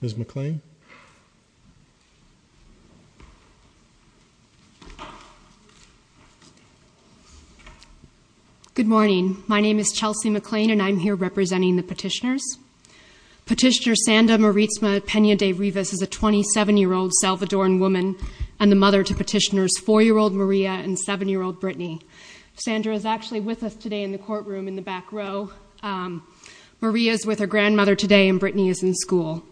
Ms. McLean Good morning. My name is Chelsea McLean and I'm here representing the petitioners. Petitioner Sanda Maritzma Pena De Rivas is a 27-year-old Salvadoran woman and the mother to petitioners 4-year-old Maria and 7-year-old Brittany. Sandra is actually with us today in the courtroom in the back row. Maria is with her grandmother today and Brittany is in school.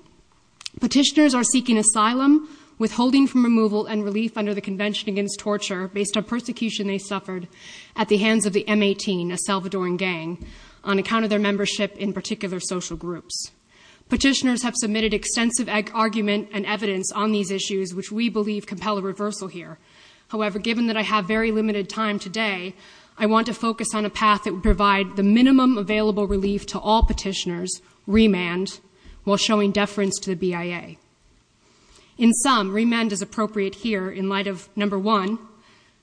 Petitioners are seeking asylum, withholding from removal and relief under the Convention Against Torture based on persecution they suffered at the hands of the M18, a Salvadoran gang, on account of their membership in particular social groups. Petitioners have submitted extensive argument and evidence on these issues which we believe compel a reversal here. However, given that I have very limited time today, I want to focus on a path that would provide the minimum available relief to all petitioners, remand, while showing deference to the BIA. In sum, remand is appropriate here in light of, number one,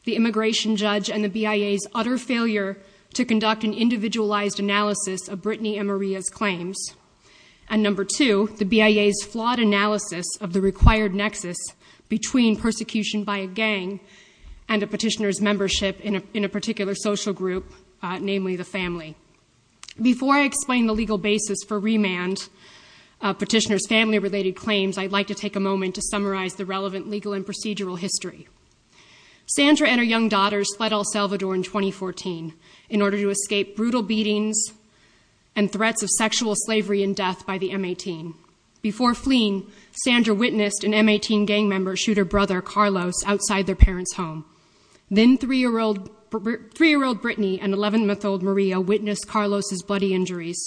the immigration judge and the BIA's utter failure to conduct an individualized analysis of Brittany and Maria's claims. And number two, the BIA's flawed analysis of the required nexus between persecution by a gang and a petitioner's membership in a particular social group, namely the family. Before I explain the legal basis for remand, petitioner's family-related claims, I'd like to take a moment to summarize the relevant legal and procedural history. Sandra and her young daughters fled El Salvador in 2014 in order to escape brutal beatings and threats of sexual slavery and death by the M18. Before fleeing, Sandra witnessed an M18 gang member shoot her brother, Carlos, outside their parents' home. Then three-year-old Brittany and 11-month-old Maria witnessed Carlos's bloody injuries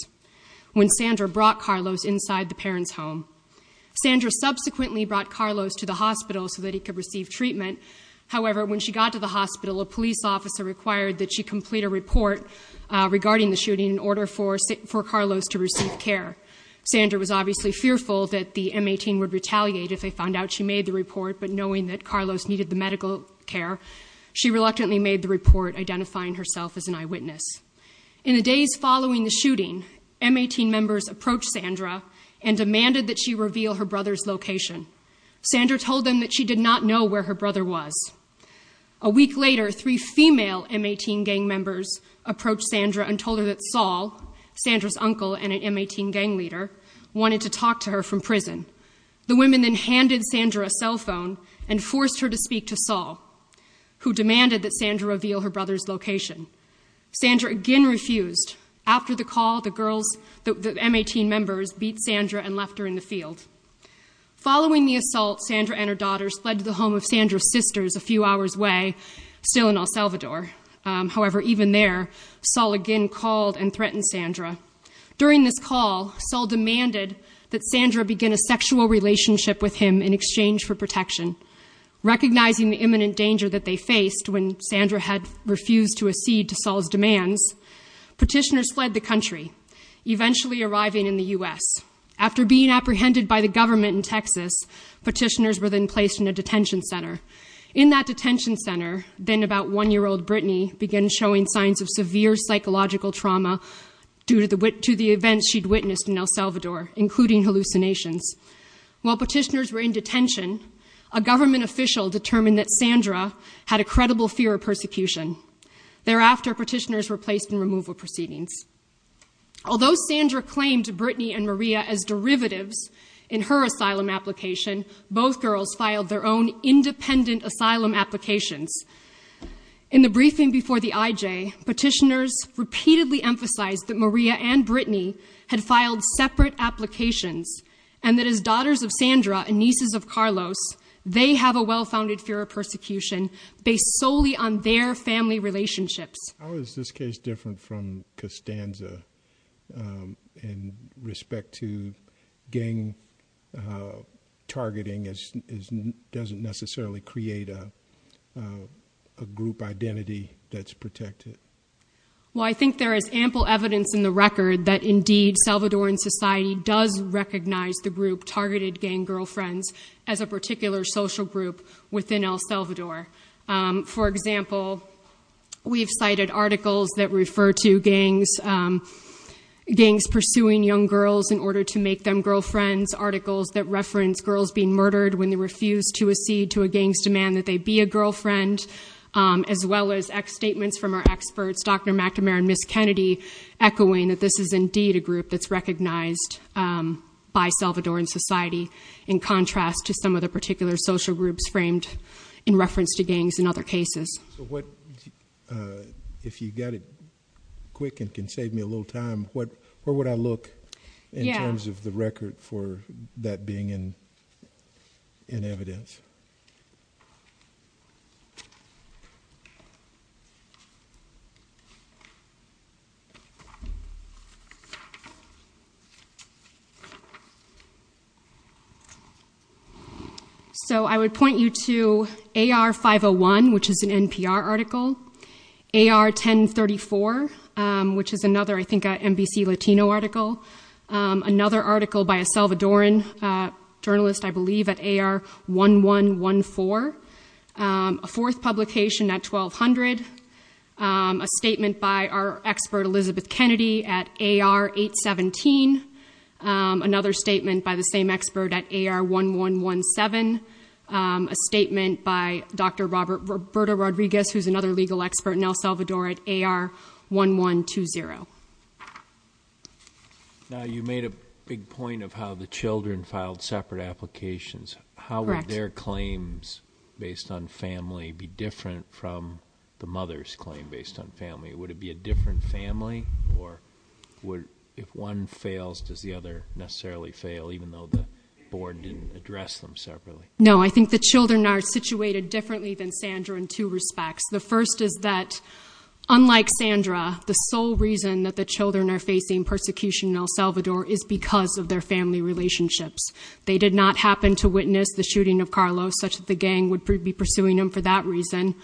when Sandra brought Carlos inside the parents' home. Sandra subsequently brought Carlos to the hospital so that he could receive treatment. However, when she got to the hospital, a police officer required that she complete a report regarding the shooting in order for Carlos to receive care. Sandra was obviously fearful that the M18 would retaliate if they found out she made the report, but knowing that Carlos needed the medical care, she reluctantly made the report, identifying herself as an eyewitness. In the days following the shooting, M18 members approached Sandra and demanded that she reveal her brother's location. Sandra told them that she did not know where her brother was. A week later, three female M18 gang members approached Sandra and told her that Saul, Sandra's uncle and an M18 gang leader, wanted to talk to her from prison. The women then handed Sandra a cell phone and forced her to speak to Saul, who demanded that Sandra reveal her brother's location. Sandra again refused. After the call, the M18 members beat Sandra and left her in the field. Following the assault, Sandra and her daughters fled to the home of Sandra's sisters a few hours away, still in El Salvador. However, even there, Saul again called and threatened Sandra. During this call, Saul demanded that Sandra begin a sexual relationship with him in exchange for protection. Recognizing the imminent danger that they faced when Sandra had refused to accede to Saul's demands, petitioners fled the country, eventually arriving in the U.S. After being apprehended by the government in Texas, petitioners were then placed in a detention center. In that detention center, then about one-year-old Brittany began showing signs of severe psychological trauma due to the events she'd witnessed in El Salvador, including hallucinations. While petitioners were in detention, a government official determined that Sandra had a credible fear of persecution. Thereafter, petitioners were placed in removal proceedings. Although Sandra claimed Brittany and Maria as derivatives in her asylum application, both girls filed their own independent asylum applications. In the briefing before the IJ, petitioners repeatedly emphasized that Maria and Brittany had filed separate applications and that as daughters of Sandra and nieces of Carlos, they have a well-founded fear of persecution based solely on their family relationships. How is this case different from Costanza in respect to gang targeting doesn't necessarily create a group identity that's protected. Well, I think there is ample evidence in the record that indeed Salvadoran society does recognize the group targeted gang girlfriends as a particular social group within El Salvador. For example, we've cited articles that refer to gangs pursuing young girls in order to make them girlfriends, articles that reference girls being murdered when they refuse to accede to a gang's demand that they be a girlfriend, as well as statements from our experts, Dr. McNamara and Ms. Kennedy, echoing that this is indeed a group that's recognized by Salvadoran society in contrast to some of the particular social groups framed in reference to gangs in other cases. If you got it quick and can save me a little time, where would I look in terms of the record for that being in evidence? So I would point you to AR-501, which is an NPR article, AR-1034, which is another, I think, El Salvadoran journalist, I believe, at AR-1114, a fourth publication at 1200, a statement by our expert, Elizabeth Kennedy, at AR-817, another statement by the same expert at AR-1117, a statement by Dr. Roberto Rodriguez, who's another legal expert in El Salvador at AR-1120. Now, you made a big point of how the children filed separate applications. How would their claims based on family be different from the mother's claim based on family? Would it be a different family, or if one fails, does the other necessarily fail, even though the board didn't address them separately? No, I think the children are situated differently than Sandra in two respects. The first is that, unlike Sandra, the sole reason that the children are facing persecution in El Salvador is because of their family relationships. They did not happen to witness the shooting of Carlos, such that the gang would be pursuing him for that reason.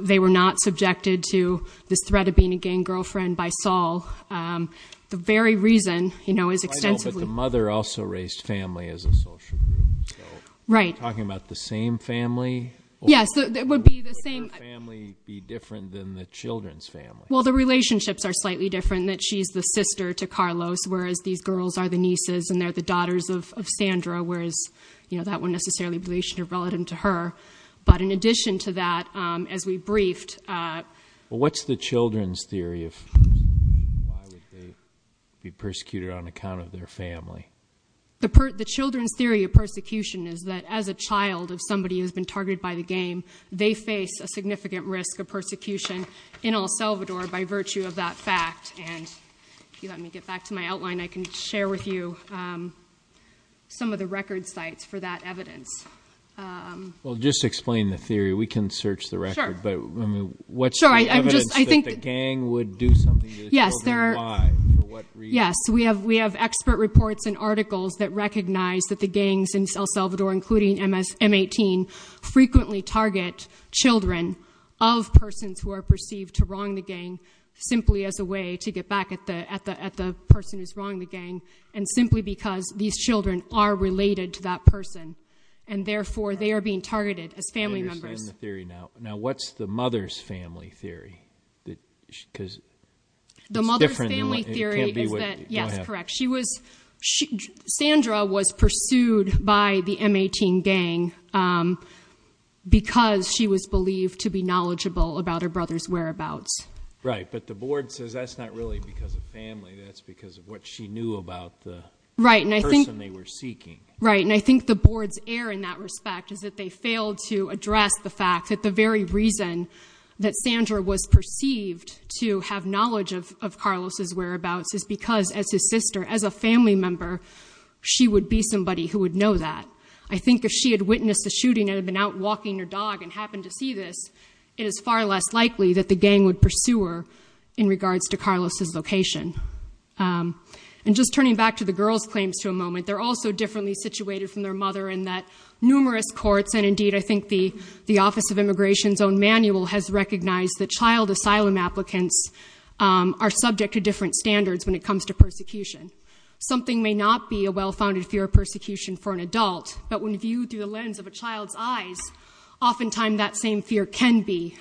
They were not subjected to this threat of being a gang girlfriend by Saul. The very reason, you know, is extensively- I know, but the mother also raised family as a social group, so- Right. So you're talking about the same family, or would her family be different than the children's family? Well, the relationships are slightly different, in that she's the sister to Carlos, whereas these girls are the nieces, and they're the daughters of Sandra, whereas, you know, that wouldn't necessarily be relationship-relevant to her. But in addition to that, as we briefed- What's the children's theory of why would they be persecuted on account of their family? The children's theory of persecution is that, as a child of somebody who's been targeted by the gang, they face a significant risk of persecution in El Salvador by virtue of that fact. And if you let me get back to my outline, I can share with you some of the record sites for that evidence. Well, just explain the theory. We can search the record, but what's the evidence that the gang would do something to the children? Why? For what reason? Yes. We have expert reports and articles that recognize that the gangs in El Salvador, including M-18, frequently target children of persons who are perceived to wrong the gang, simply as a way to get back at the person who's wronging the gang, and simply because these children are related to that person. And therefore, they are being targeted as family members. I understand the theory now. Now, what's the mother's family theory? Because it's different than what... The mother's family theory is that, yes, correct, Sandra was pursued by the M-18 gang because she was believed to be knowledgeable about her brother's whereabouts. Right. But the board says that's not really because of family, that's because of what she knew about the person they were seeking. Right. And I think the board's error in that respect is that they failed to address the fact that the very reason that Sandra was perceived to have knowledge of Carlos's whereabouts is because, as his sister, as a family member, she would be somebody who would know that. I think if she had witnessed the shooting and had been out walking her dog and happened to see this, it is far less likely that the gang would pursue her in regards to Carlos's location. And just turning back to the girls' claims for a moment, they're also differently situated from their mother in that numerous courts and, indeed, I think the Office of Immigration's own manual has recognized that child asylum applicants are subject to different standards when it comes to persecution. Something may not be a well-founded fear of persecution for an adult, but when viewed through the lens of a child's eyes, oftentimes that same fear can be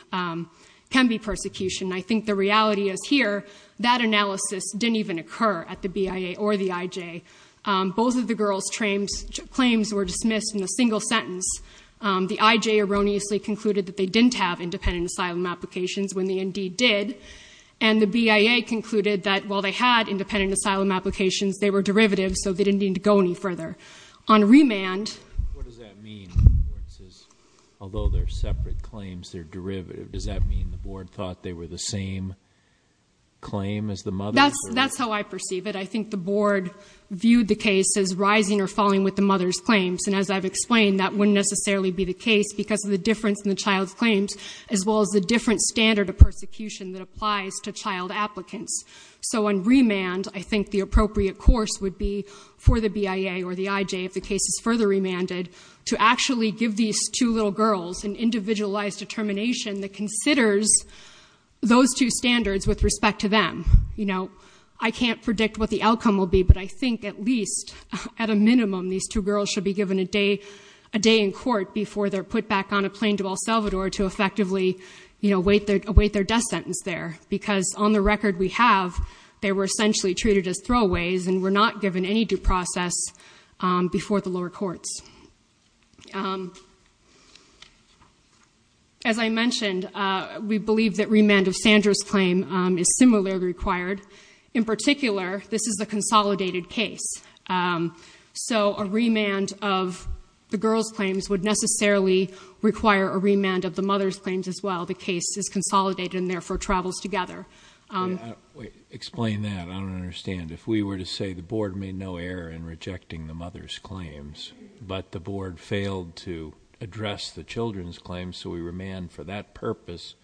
persecution. I think the reality is here, that analysis didn't even occur at the BIA or the IJ. Both of the girls' claims were dismissed in a single sentence. The IJ erroneously concluded that they didn't have independent asylum applications when they indeed did, and the BIA concluded that while they had independent asylum applications, they were derivatives, so they didn't need to go any further. On remand... What does that mean? Although they're separate claims, they're derivatives. Does that mean the board thought they were the same claim as the mother? That's how I perceive it. I think the board viewed the case as rising or falling with the mother's claims, and as I've explained, that wouldn't necessarily be the case because of the difference in the child's claims, as well as the different standard of persecution that applies to child applicants. So on remand, I think the appropriate course would be for the BIA or the IJ, if the case is further remanded, to actually give these two little girls an individualized determination that considers those two standards with respect to them. You know, I can't predict what the outcome will be, but I think at least, at a minimum, these two girls should be given a day in court before they're put back on a plane to El Salvador to effectively await their death sentence there, because on the record we have, they were essentially treated as throwaways and were not given any due process before the lower courts. As I mentioned, we believe that remand of Sandra's claim is similarly required. In particular, this is a consolidated case. So a remand of the girl's claims would necessarily require a remand of the mother's claims as well. The case is consolidated and therefore travels together. Explain that. I don't understand. If we were to say the board made no error in rejecting the mother's claims, but the board failed to address the children's claims, so we remand for that purpose,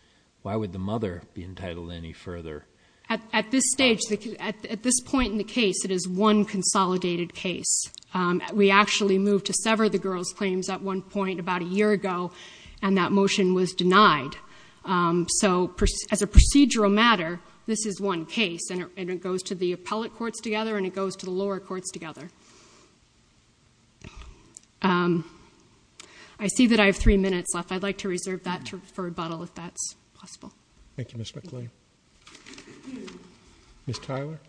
why would the mother be entitled any further? At this stage, at this point in the case, it is one consolidated case. We actually moved to sever the girl's claims at one point about a year ago, and that motion was denied. So as a procedural matter, this is one case, and it goes to the appellate courts together and it goes to the lower courts together. I see that I have three minutes left. I'd like to reserve that for rebuttal if that's possible. Thank you, Ms. McClain. Ms. Tyler?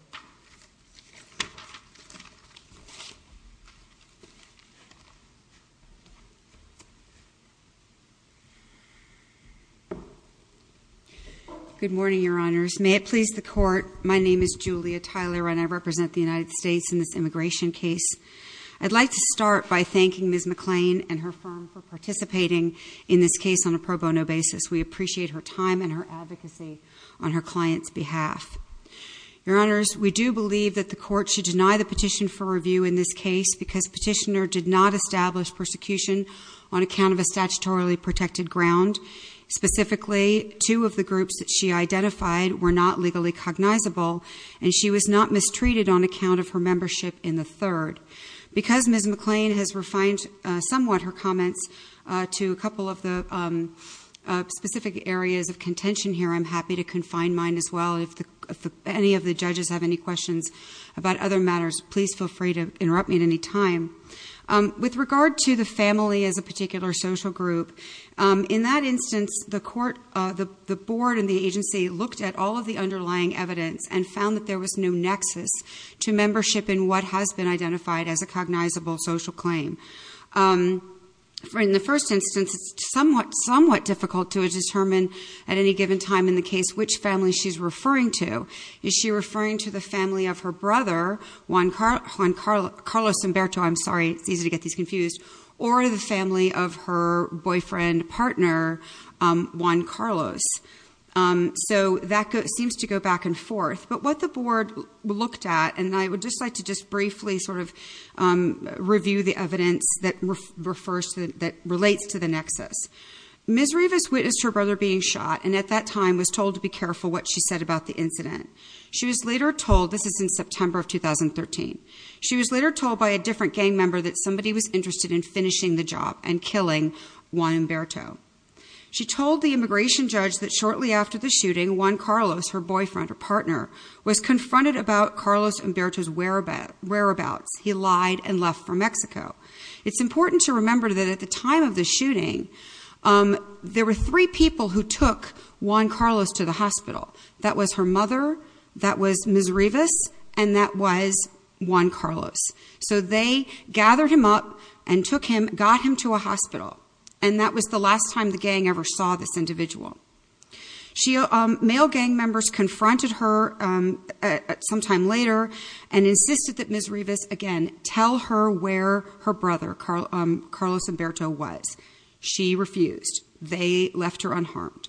Good morning, Your Honors. May it please the court, my name is Julia Tyler and I represent the United States in this immigration case. I'd like to start by thanking Ms. McClain and her firm for participating in this case on a pro bono basis. We appreciate her time and her advocacy on her client's behalf. Your Honors, we do believe that the court should deny the petition for review in this case because petitioner did not establish persecution on account of a statutorily protected ground. Specifically, two of the groups that she identified were not legally cognizable, and she was not mistreated on account of her membership in the third. Because Ms. McClain has refined somewhat her comments to a couple of the specific areas of contention here, I'm happy to confine mine as well, and if any of the judges have any questions about other matters, please feel free to interrupt me at any time. With regard to the family as a particular social group, in that instance, the board and the agency looked at all of the underlying evidence and found that there was no nexus to membership in what has been identified as a cognizable social claim. In the first instance, it's somewhat difficult to determine at any given time in the case which family she's referring to. Is she referring to the family of her brother, Juan Carlos Humberto, I'm sorry, it's easy to get these confused, or the family of her boyfriend partner, Juan Carlos? So that seems to go back and forth. But what the board looked at, and I would just like to just briefly sort of review the evidence that relates to the nexus. Ms. Rivas witnessed her brother being shot and at that time was told to be careful what she said about the incident. She was later told, this is in September of 2013, she was later told by a different gang member that somebody was interested in finishing the job and killing Juan Humberto. She told the immigration judge that shortly after the shooting, Juan Carlos, her boyfriend or partner, was confronted about Carlos Humberto's whereabouts. He lied and left for Mexico. It's important to remember that at the time of the shooting, there were three people who that was her mother, that was Ms. Rivas, and that was Juan Carlos. So they gathered him up and took him, got him to a hospital. And that was the last time the gang ever saw this individual. Male gang members confronted her sometime later and insisted that Ms. Rivas, again, tell her where her brother, Carlos Humberto, was. She refused. They left her unharmed.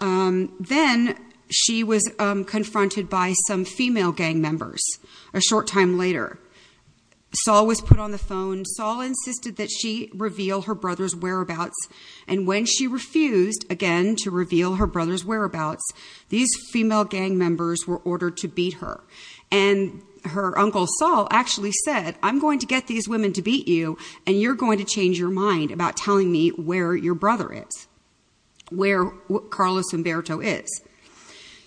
Then she was confronted by some female gang members a short time later. Sol was put on the phone. Sol insisted that she reveal her brother's whereabouts. And when she refused, again, to reveal her brother's whereabouts, these female gang members were ordered to beat her. And her uncle Sol actually said, I'm going to get these women to beat you and you're going to change your mind about telling me where your brother is. Where Carlos Humberto is.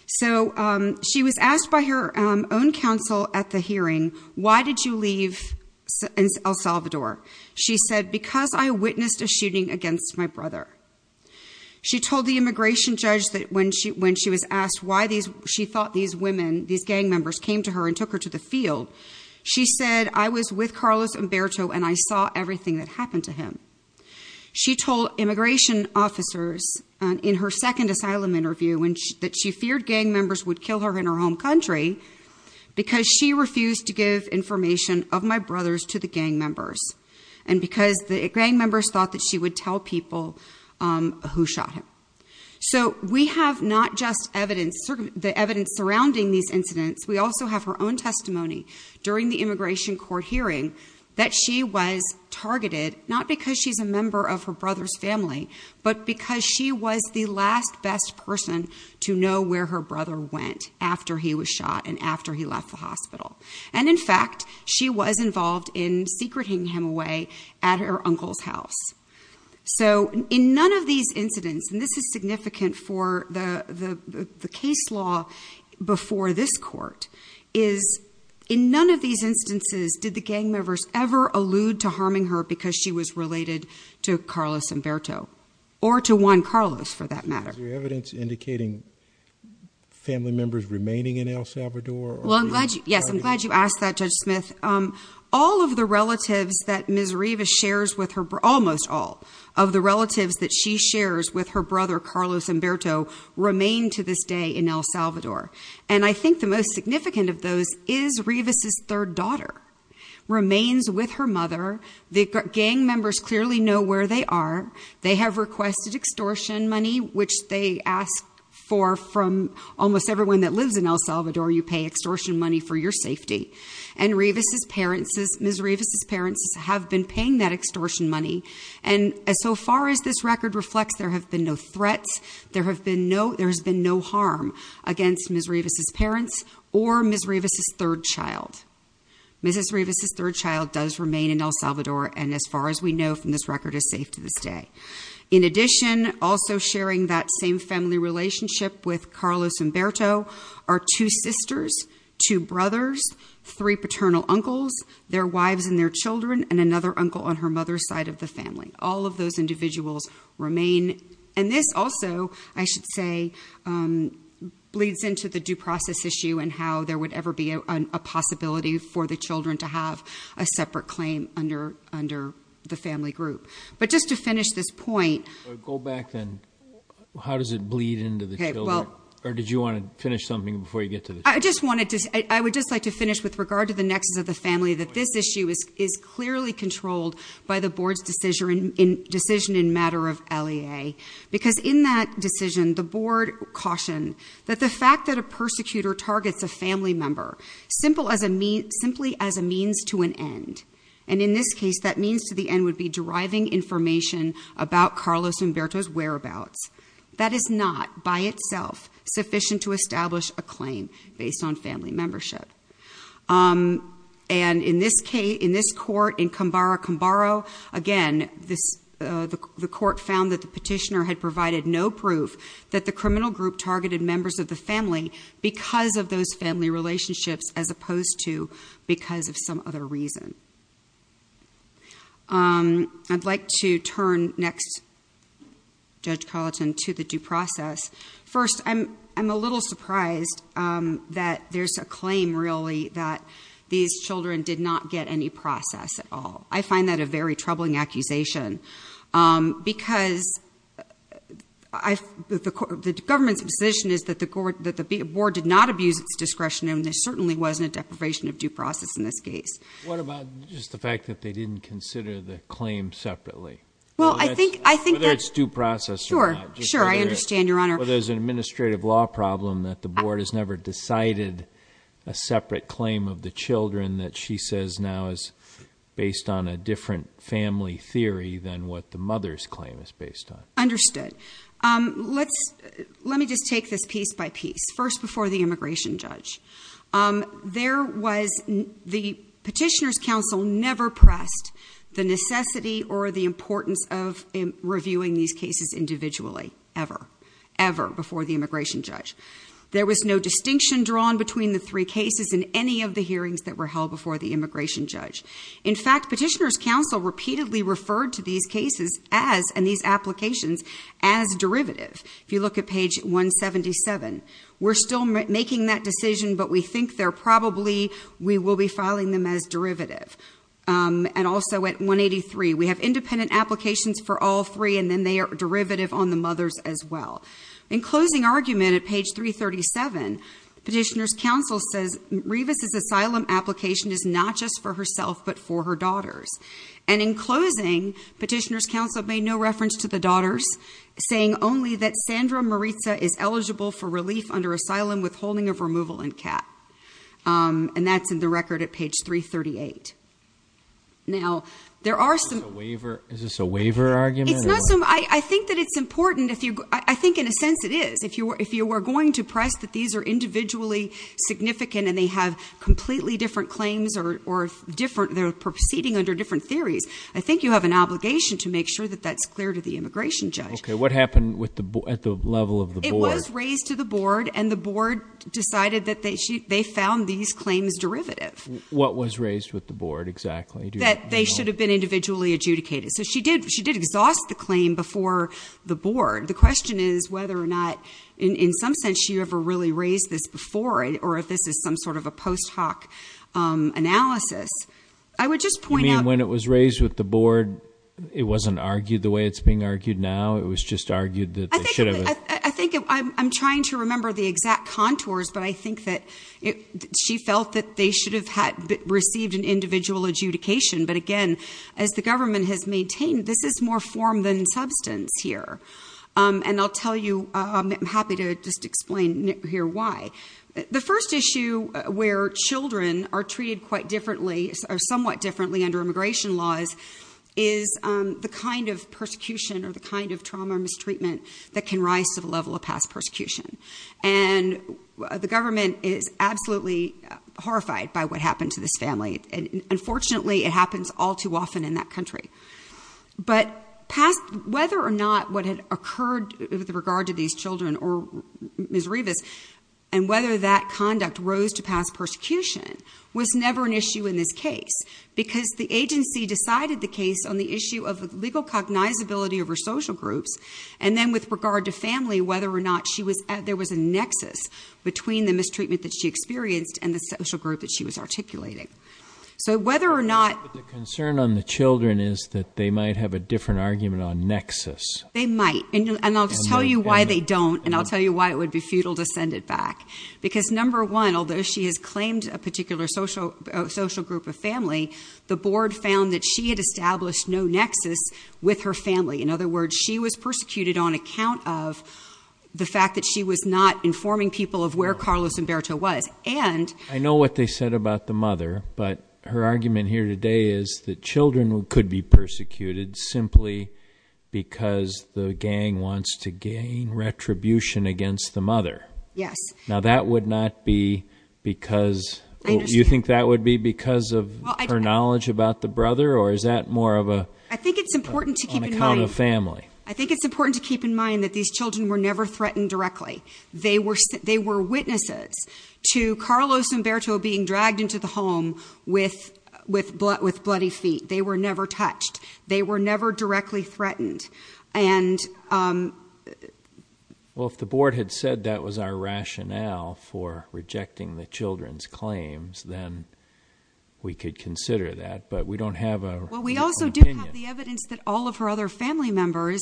So she was asked by her own counsel at the hearing, why did you leave El Salvador? She said, because I witnessed a shooting against my brother. She told the immigration judge that when she was asked why these, she thought these women, these gang members, came to her and took her to the field. She said, I was with Carlos Humberto and I saw everything that happened to him. She told immigration officers in her second asylum interview that she feared gang members would kill her in her home country. Because she refused to give information of my brothers to the gang members. And because the gang members thought that she would tell people who shot him. So we have not just the evidence surrounding these incidents, we also have her own testimony during the immigration court hearing. That she was targeted, not because she's a member of her brother's family, but because she was the last best person to know where her brother went after he was shot and after he left the hospital. And in fact, she was involved in secreting him away at her uncle's house. So in none of these incidents, and this is significant for the case law before this court, is in none of these instances, did the gang members ever allude to harming her because she was related to Carlos Humberto. Or to Juan Carlos, for that matter. Is there evidence indicating family members remaining in El Salvador? Well, I'm glad, yes, I'm glad you asked that, Judge Smith. All of the relatives that Ms. Rivas shares with her, almost all, of the relatives that she shares with her brother, Carlos Humberto, remain to this day in El Salvador. And I think the most significant of those is Rivas' third daughter remains with her mother. The gang members clearly know where they are. They have requested extortion money, which they ask for from almost everyone that lives in El Salvador, you pay extortion money for your safety. And Ms. Rivas' parents have been paying that extortion money. And so far as this record reflects, there have been no threats. There has been no harm against Ms. Rivas' parents or Ms. Rivas' third child. Ms. Rivas' third child does remain in El Salvador, and as far as we know from this record, is safe to this day. In addition, also sharing that same family relationship with Carlos Humberto are two sisters, two brothers, three paternal uncles, their wives and their children, and another uncle on her mother's side of the family. All of those individuals remain, and this also, I should say, bleeds into the due process issue and how there would ever be a possibility for the children to have a separate claim under the family group. But just to finish this point- Go back then. How does it bleed into the children? I would just like to finish with regard to the nexus of the family that this issue is clearly controlled by the board's decision in matter of LEA. Because in that decision, the board cautioned that the fact that a persecutor targets a family member simply as a means to an end. And in this case, that means to the end would be deriving information about Carlos Humberto's whereabouts. That is not, by itself, sufficient to establish a claim based on family membership. And in this case, in this court, in Combaro-Combaro, again, the court found that the petitioner had provided no proof that the criminal group targeted members of the family because of those family relationships as opposed to because of some other reason. I'd like to turn next, Judge Carlton, to the due process. First, I'm a little surprised that there's a claim, really, that these children did not get any process at all. I find that a very troubling accusation because the government's position is that the board did not abuse its discretion and there certainly wasn't a deprivation of due process in this case. What about just the fact that they didn't consider the claim separately? Whether it's due process or not. Sure, sure, I understand, Your Honor. But there's an administrative law problem that the board has never decided a separate claim of the children that she says now is based on a different family theory than what the mother's claim is based on. Understood. Let me just take this piece by piece. First, before the immigration judge. The petitioner's counsel never pressed the necessity or the importance of reviewing these cases individually, ever, ever before the immigration judge. There was no distinction drawn between the three cases in any of the hearings that were held before the immigration judge. In fact, petitioner's counsel repeatedly referred to these cases and these applications as derivative. If you look at page 177, we're still making that decision, but we think they're probably, we will be filing them as derivative. And also at 183, we have independent applications for all three, and then they are derivative on the mothers as well. In closing argument at page 337, petitioner's counsel says Revis's asylum application is not just for herself, but for her daughters. And in closing, petitioner's counsel made no reference to the daughters, saying only that Sandra Maritza is eligible for relief under asylum withholding of removal in CAP. And that's in the record at page 338. Now, there are some- Is this a waiver argument? It's not some, I think that it's important if you, I think in a sense it is. If you were going to press that these are individually significant and they have completely different claims or they're proceeding under different theories. I think you have an obligation to make sure that that's clear to the immigration judge. Okay, what happened at the level of the board? It was raised to the board and the board decided that they found these claims derivative. What was raised with the board exactly? That they should have been individually adjudicated. So she did exhaust the claim before the board. The question is whether or not, in some sense, she ever really raised this before or if this is some sort of a post hoc analysis. I would just point out- You mean when it was raised with the board, it wasn't argued the way it's being argued now? It was just argued that they should have- I think I'm trying to remember the exact contours, but I think that she felt that they should have received an individual adjudication. But again, as the government has maintained, this is more form than substance here. And I'll tell you, I'm happy to just explain here why. The first issue where children are treated quite differently or somewhat differently under immigration laws is the kind of persecution or the kind of trauma or mistreatment that can rise to the level of past persecution. And the government is absolutely horrified by what happened to this family. And unfortunately, it happens all too often in that country. But whether or not what had occurred with regard to these children or Ms. Rivas and whether that conduct rose to past persecution was never an issue in this case. Because the agency decided the case on the issue of legal cognizability of her social groups. And then with regard to family, whether or not there was a nexus between the mistreatment that she experienced and the social group that she was articulating. So whether or not- But the concern on the children is that they might have a different argument on nexus. They might, and I'll just tell you why they don't, and I'll tell you why it would be futile to send it back. Because number one, although she has claimed a particular social group of family, the board found that she had established no nexus with her family. In other words, she was persecuted on account of the fact that she was not informing people of where Carlos Humberto was, and- I know what they said about the mother. But her argument here today is that children could be persecuted simply because the gang wants to gain retribution against the mother. Yes. Now that would not be because, you think that would be because of her knowledge about the brother, or is that more of a- I think it's important to keep in mind- On account of family. I think it's important to keep in mind that these children were never threatened directly. They were witnesses to Carlos Humberto being dragged into the home with bloody feet. They were never touched. They were never directly threatened. And- Well, if the board had said that was our rationale for rejecting the children's claims, then we could consider that. But we don't have a- Well, we also do have the evidence that all of her other family members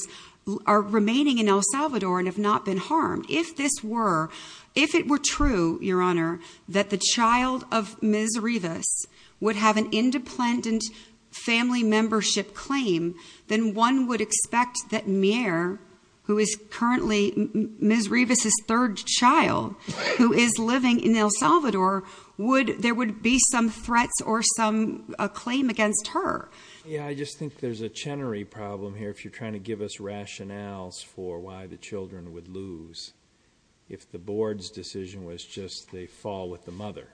are remaining in El Salvador and have not been harmed. If this were, if it were true, your honor, that the child of Ms. Rivas would have an independent family membership claim, then one would expect that Mier, who is currently Ms. Rivas' third child, who is living in El Salvador, there would be some threats or some claim against her. Yeah, I just think there's a Chenery problem here. If you're trying to give us rationales for why the children would lose, if the board's decision was just they fall with the mother.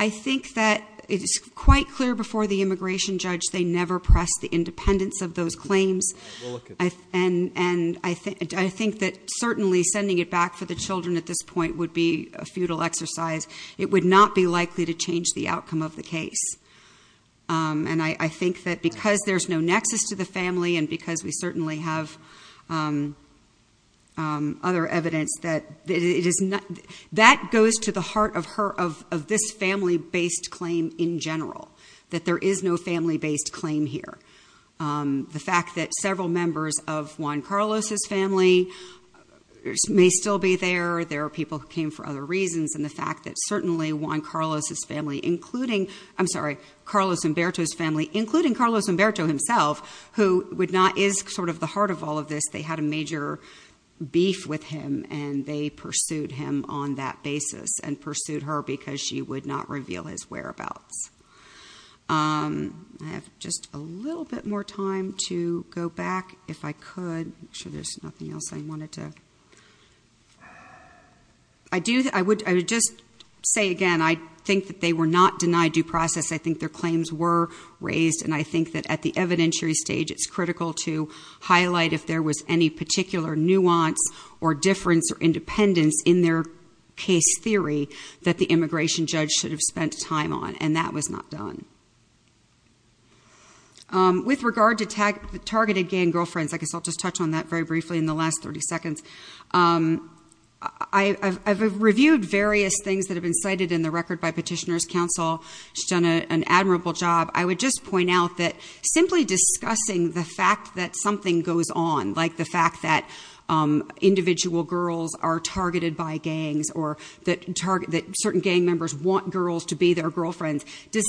I think that it's quite clear before the immigration judge, they never pressed the independence of those claims. We'll look at that. And I think that certainly sending it back for the children at this point would be a futile exercise. It would not be likely to change the outcome of the case. And I think that because there's no nexus to the family and because we certainly have other evidence that it is not, that goes to the heart of her, of this family-based claim in general. That there is no family-based claim here. The fact that several members of Juan Carlos' family may still be there. There are people who came for other reasons. And the fact that certainly Juan Carlos' family, including, I'm sorry, Carlos Humberto's family, including Carlos Humberto himself, who would not, is sort of the heart of all of this. They had a major beef with him, and they pursued him on that basis, and pursued her because she would not reveal his whereabouts. I have just a little bit more time to go back, if I could. Make sure there's nothing else I wanted to, I do, I would just say again, I think that they were not denied due process, I think their claims were raised. And I think that at the evidentiary stage, it's critical to highlight if there was any particular nuance or difference or independence in their case theory that the immigration judge should have spent time on. And that was not done. With regard to targeted gang girlfriends, I guess I'll just touch on that very briefly in the last 30 seconds. I've reviewed various things that have been cited in the record by petitioners' counsel. She's done an admirable job. I would just point out that simply discussing the fact that something goes on, like the fact that individual girls are targeted by gangs or that certain gang members want girls to be their girlfriends, is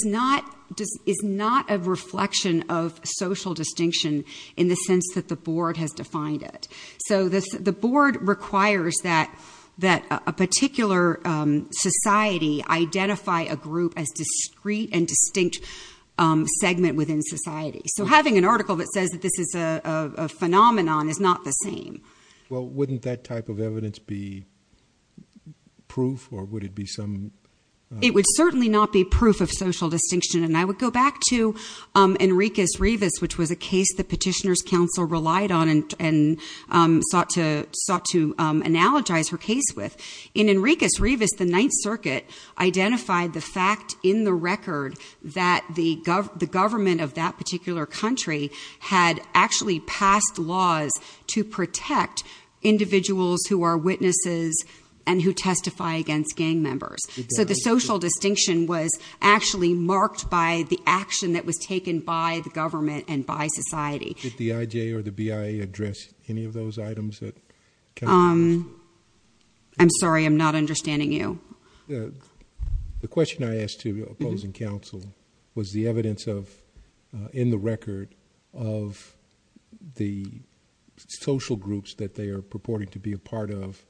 not a reflection of social distinction in the sense that the board has defined it. So the board requires that a particular society identify a group as discrete and distinct segment within society. So having an article that says that this is a phenomenon is not the same. Well, wouldn't that type of evidence be proof, or would it be some- It would certainly not be proof of social distinction. And I would go back to Enriquez-Rivas, which was a case the petitioner's counsel relied on and sought to analogize her case with. In Enriquez-Rivas, the Ninth Circuit identified the fact in the record that the government of that particular country had actually passed laws to protect individuals who are witnesses and who testify against gang members. So the social distinction was actually marked by the action that was taken by the government and by society. Did the IJ or the BIA address any of those items that- I'm sorry, I'm not understanding you. The question I asked to opposing counsel was the evidence of, in the record, of the social groups that they are purporting to be a part of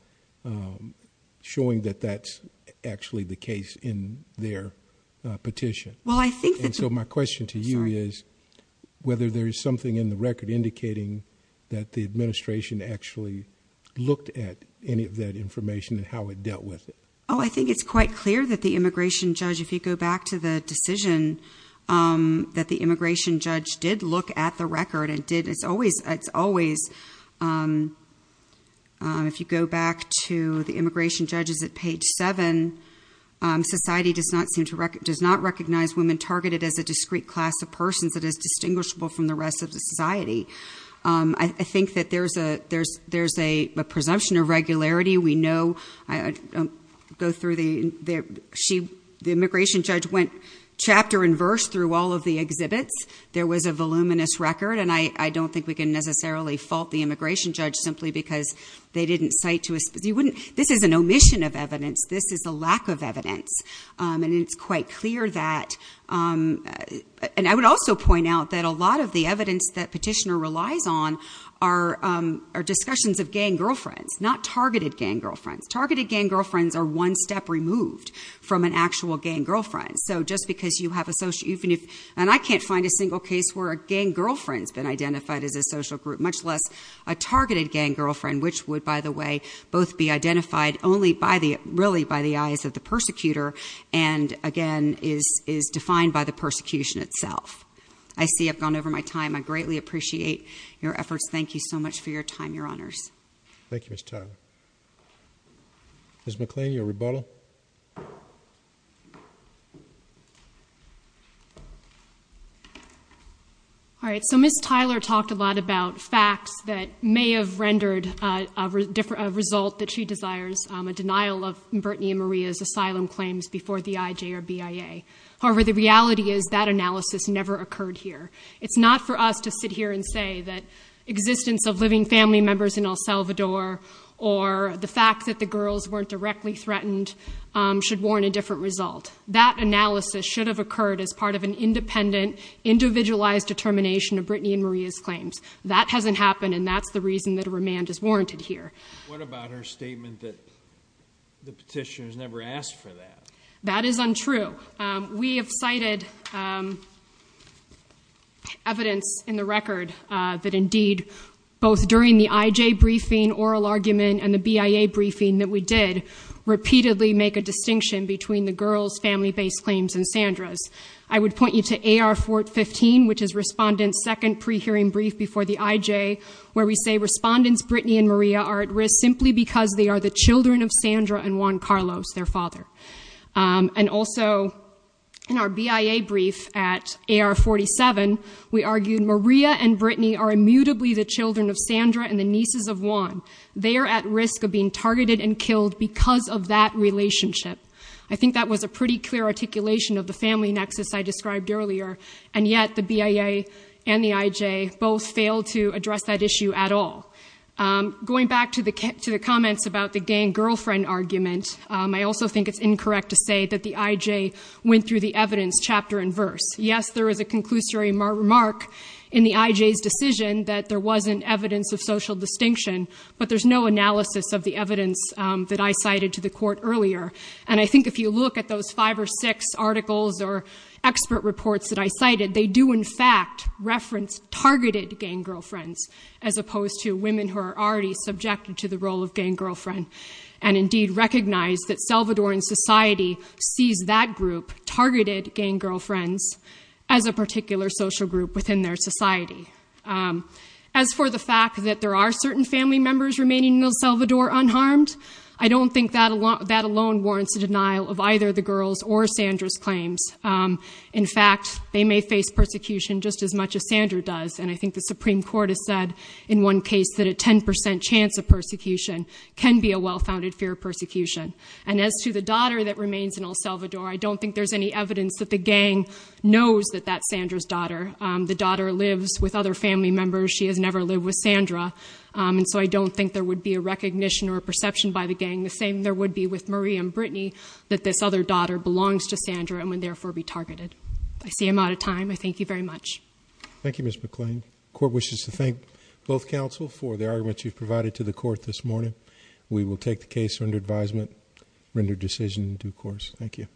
showing that that's actually the case in their petition. Well, I think that- And so my question to you is whether there is something in the record indicating that the administration actually looked at any of that information and how it dealt with it. Oh, I think it's quite clear that the immigration judge, if you go back to the decision that the immigration judge did look at the record and did, it's always, it's always, if you go back to the immigration judges at page seven, society does not seem to, does not recognize women targeted as a discrete class of persons that is distinguishable from the rest of the society. I think that there's a, there's, there's a presumption of regularity. We know, I don't go through the, she, the immigration judge went chapter and verse through all of the exhibits. There was a voluminous record. And I don't think we can necessarily fault the immigration judge simply because they didn't cite to us, you wouldn't, this is an omission of evidence. This is a lack of evidence. And it's quite clear that, and I would also point out that a lot of the evidence that petitioner relies on are, are discussions of gang girlfriends, not targeted gang girlfriends. Targeted gang girlfriends are one step removed from an actual gang girlfriend. So just because you have a social, even if, and I can't find a single case where a gang girlfriend's been identified as a social group, much less a targeted gang girlfriend, which would, by the way, both be identified only by the, really by the eyes of the persecutor. And again, is, is defined by the persecution itself. I see I've gone over my time. I greatly appreciate your efforts. Thank you so much for your time, your honors. Thank you, Ms. Tyler. Ms. McLean, your rebuttal. All right. So Ms. Tyler talked a lot about facts that may have rendered a different, a result that she desires, a denial of Brittany and Maria's asylum claims before the IJ or BIA. However, the reality is that analysis never occurred here. It's not for us to sit here and say that existence of living family members in El Salvador or the fact that the girls weren't directly threatened should warrant a different result. That analysis should have occurred as part of an independent, individualized determination of Brittany and Maria's claims. That hasn't happened. And that's the reason that a remand is warranted here. What about her statement that the petitioners never asked for that? That is untrue. We have cited evidence in the record that indeed, both during the IJ briefing, oral argument and the BIA briefing that we did, repeatedly make a distinction between the girls' family-based claims and Sandra's. I would point you to AR-415, which is Respondent's second pre-hearing brief before the IJ, where we say Respondents Brittany and Maria are at risk simply because they are the children of and also in our BIA brief at AR-47, we argued Maria and Brittany are immutably the children of Sandra and the nieces of Juan. They are at risk of being targeted and killed because of that relationship. I think that was a pretty clear articulation of the family nexus I described earlier. And yet the BIA and the IJ both failed to address that issue at all. Going back to the comments about the gang girlfriend argument, I also think it's incorrect to say that the IJ went through the evidence chapter and verse. Yes, there is a conclusory remark in the IJ's decision that there wasn't evidence of social distinction, but there's no analysis of the evidence that I cited to the court earlier. And I think if you look at those five or six articles or expert reports that I cited, they do in fact reference targeted gang girlfriends, as opposed to women who are already subjected to the role of gang girlfriend, and indeed recognize that Salvadoran society sees that group, targeted gang girlfriends, as a particular social group within their society. As for the fact that there are certain family members remaining in El Salvador unharmed, I don't think that alone warrants a denial of either the girls or Sandra's claims. In fact, they may face persecution just as much as Sandra does, and I think the Supreme Court has said in one case that a 10 percent chance of persecution can be a well-founded fear of persecution. And as to the daughter that remains in El Salvador, I don't think there's any evidence that the gang knows that that's Sandra's daughter. The daughter lives with other family members. She has never lived with Sandra, and so I don't think there would be a recognition or a perception by the gang. The same there would be with Marie and Brittany that this other daughter belongs to Sandra and would therefore be targeted. I see I'm out of time. I thank you very much. Thank you, Ms. McClain. The court wishes to thank both counsel for the arguments you've provided to the court this morning. We will take the case under advisement, render decision in due course. Thank you.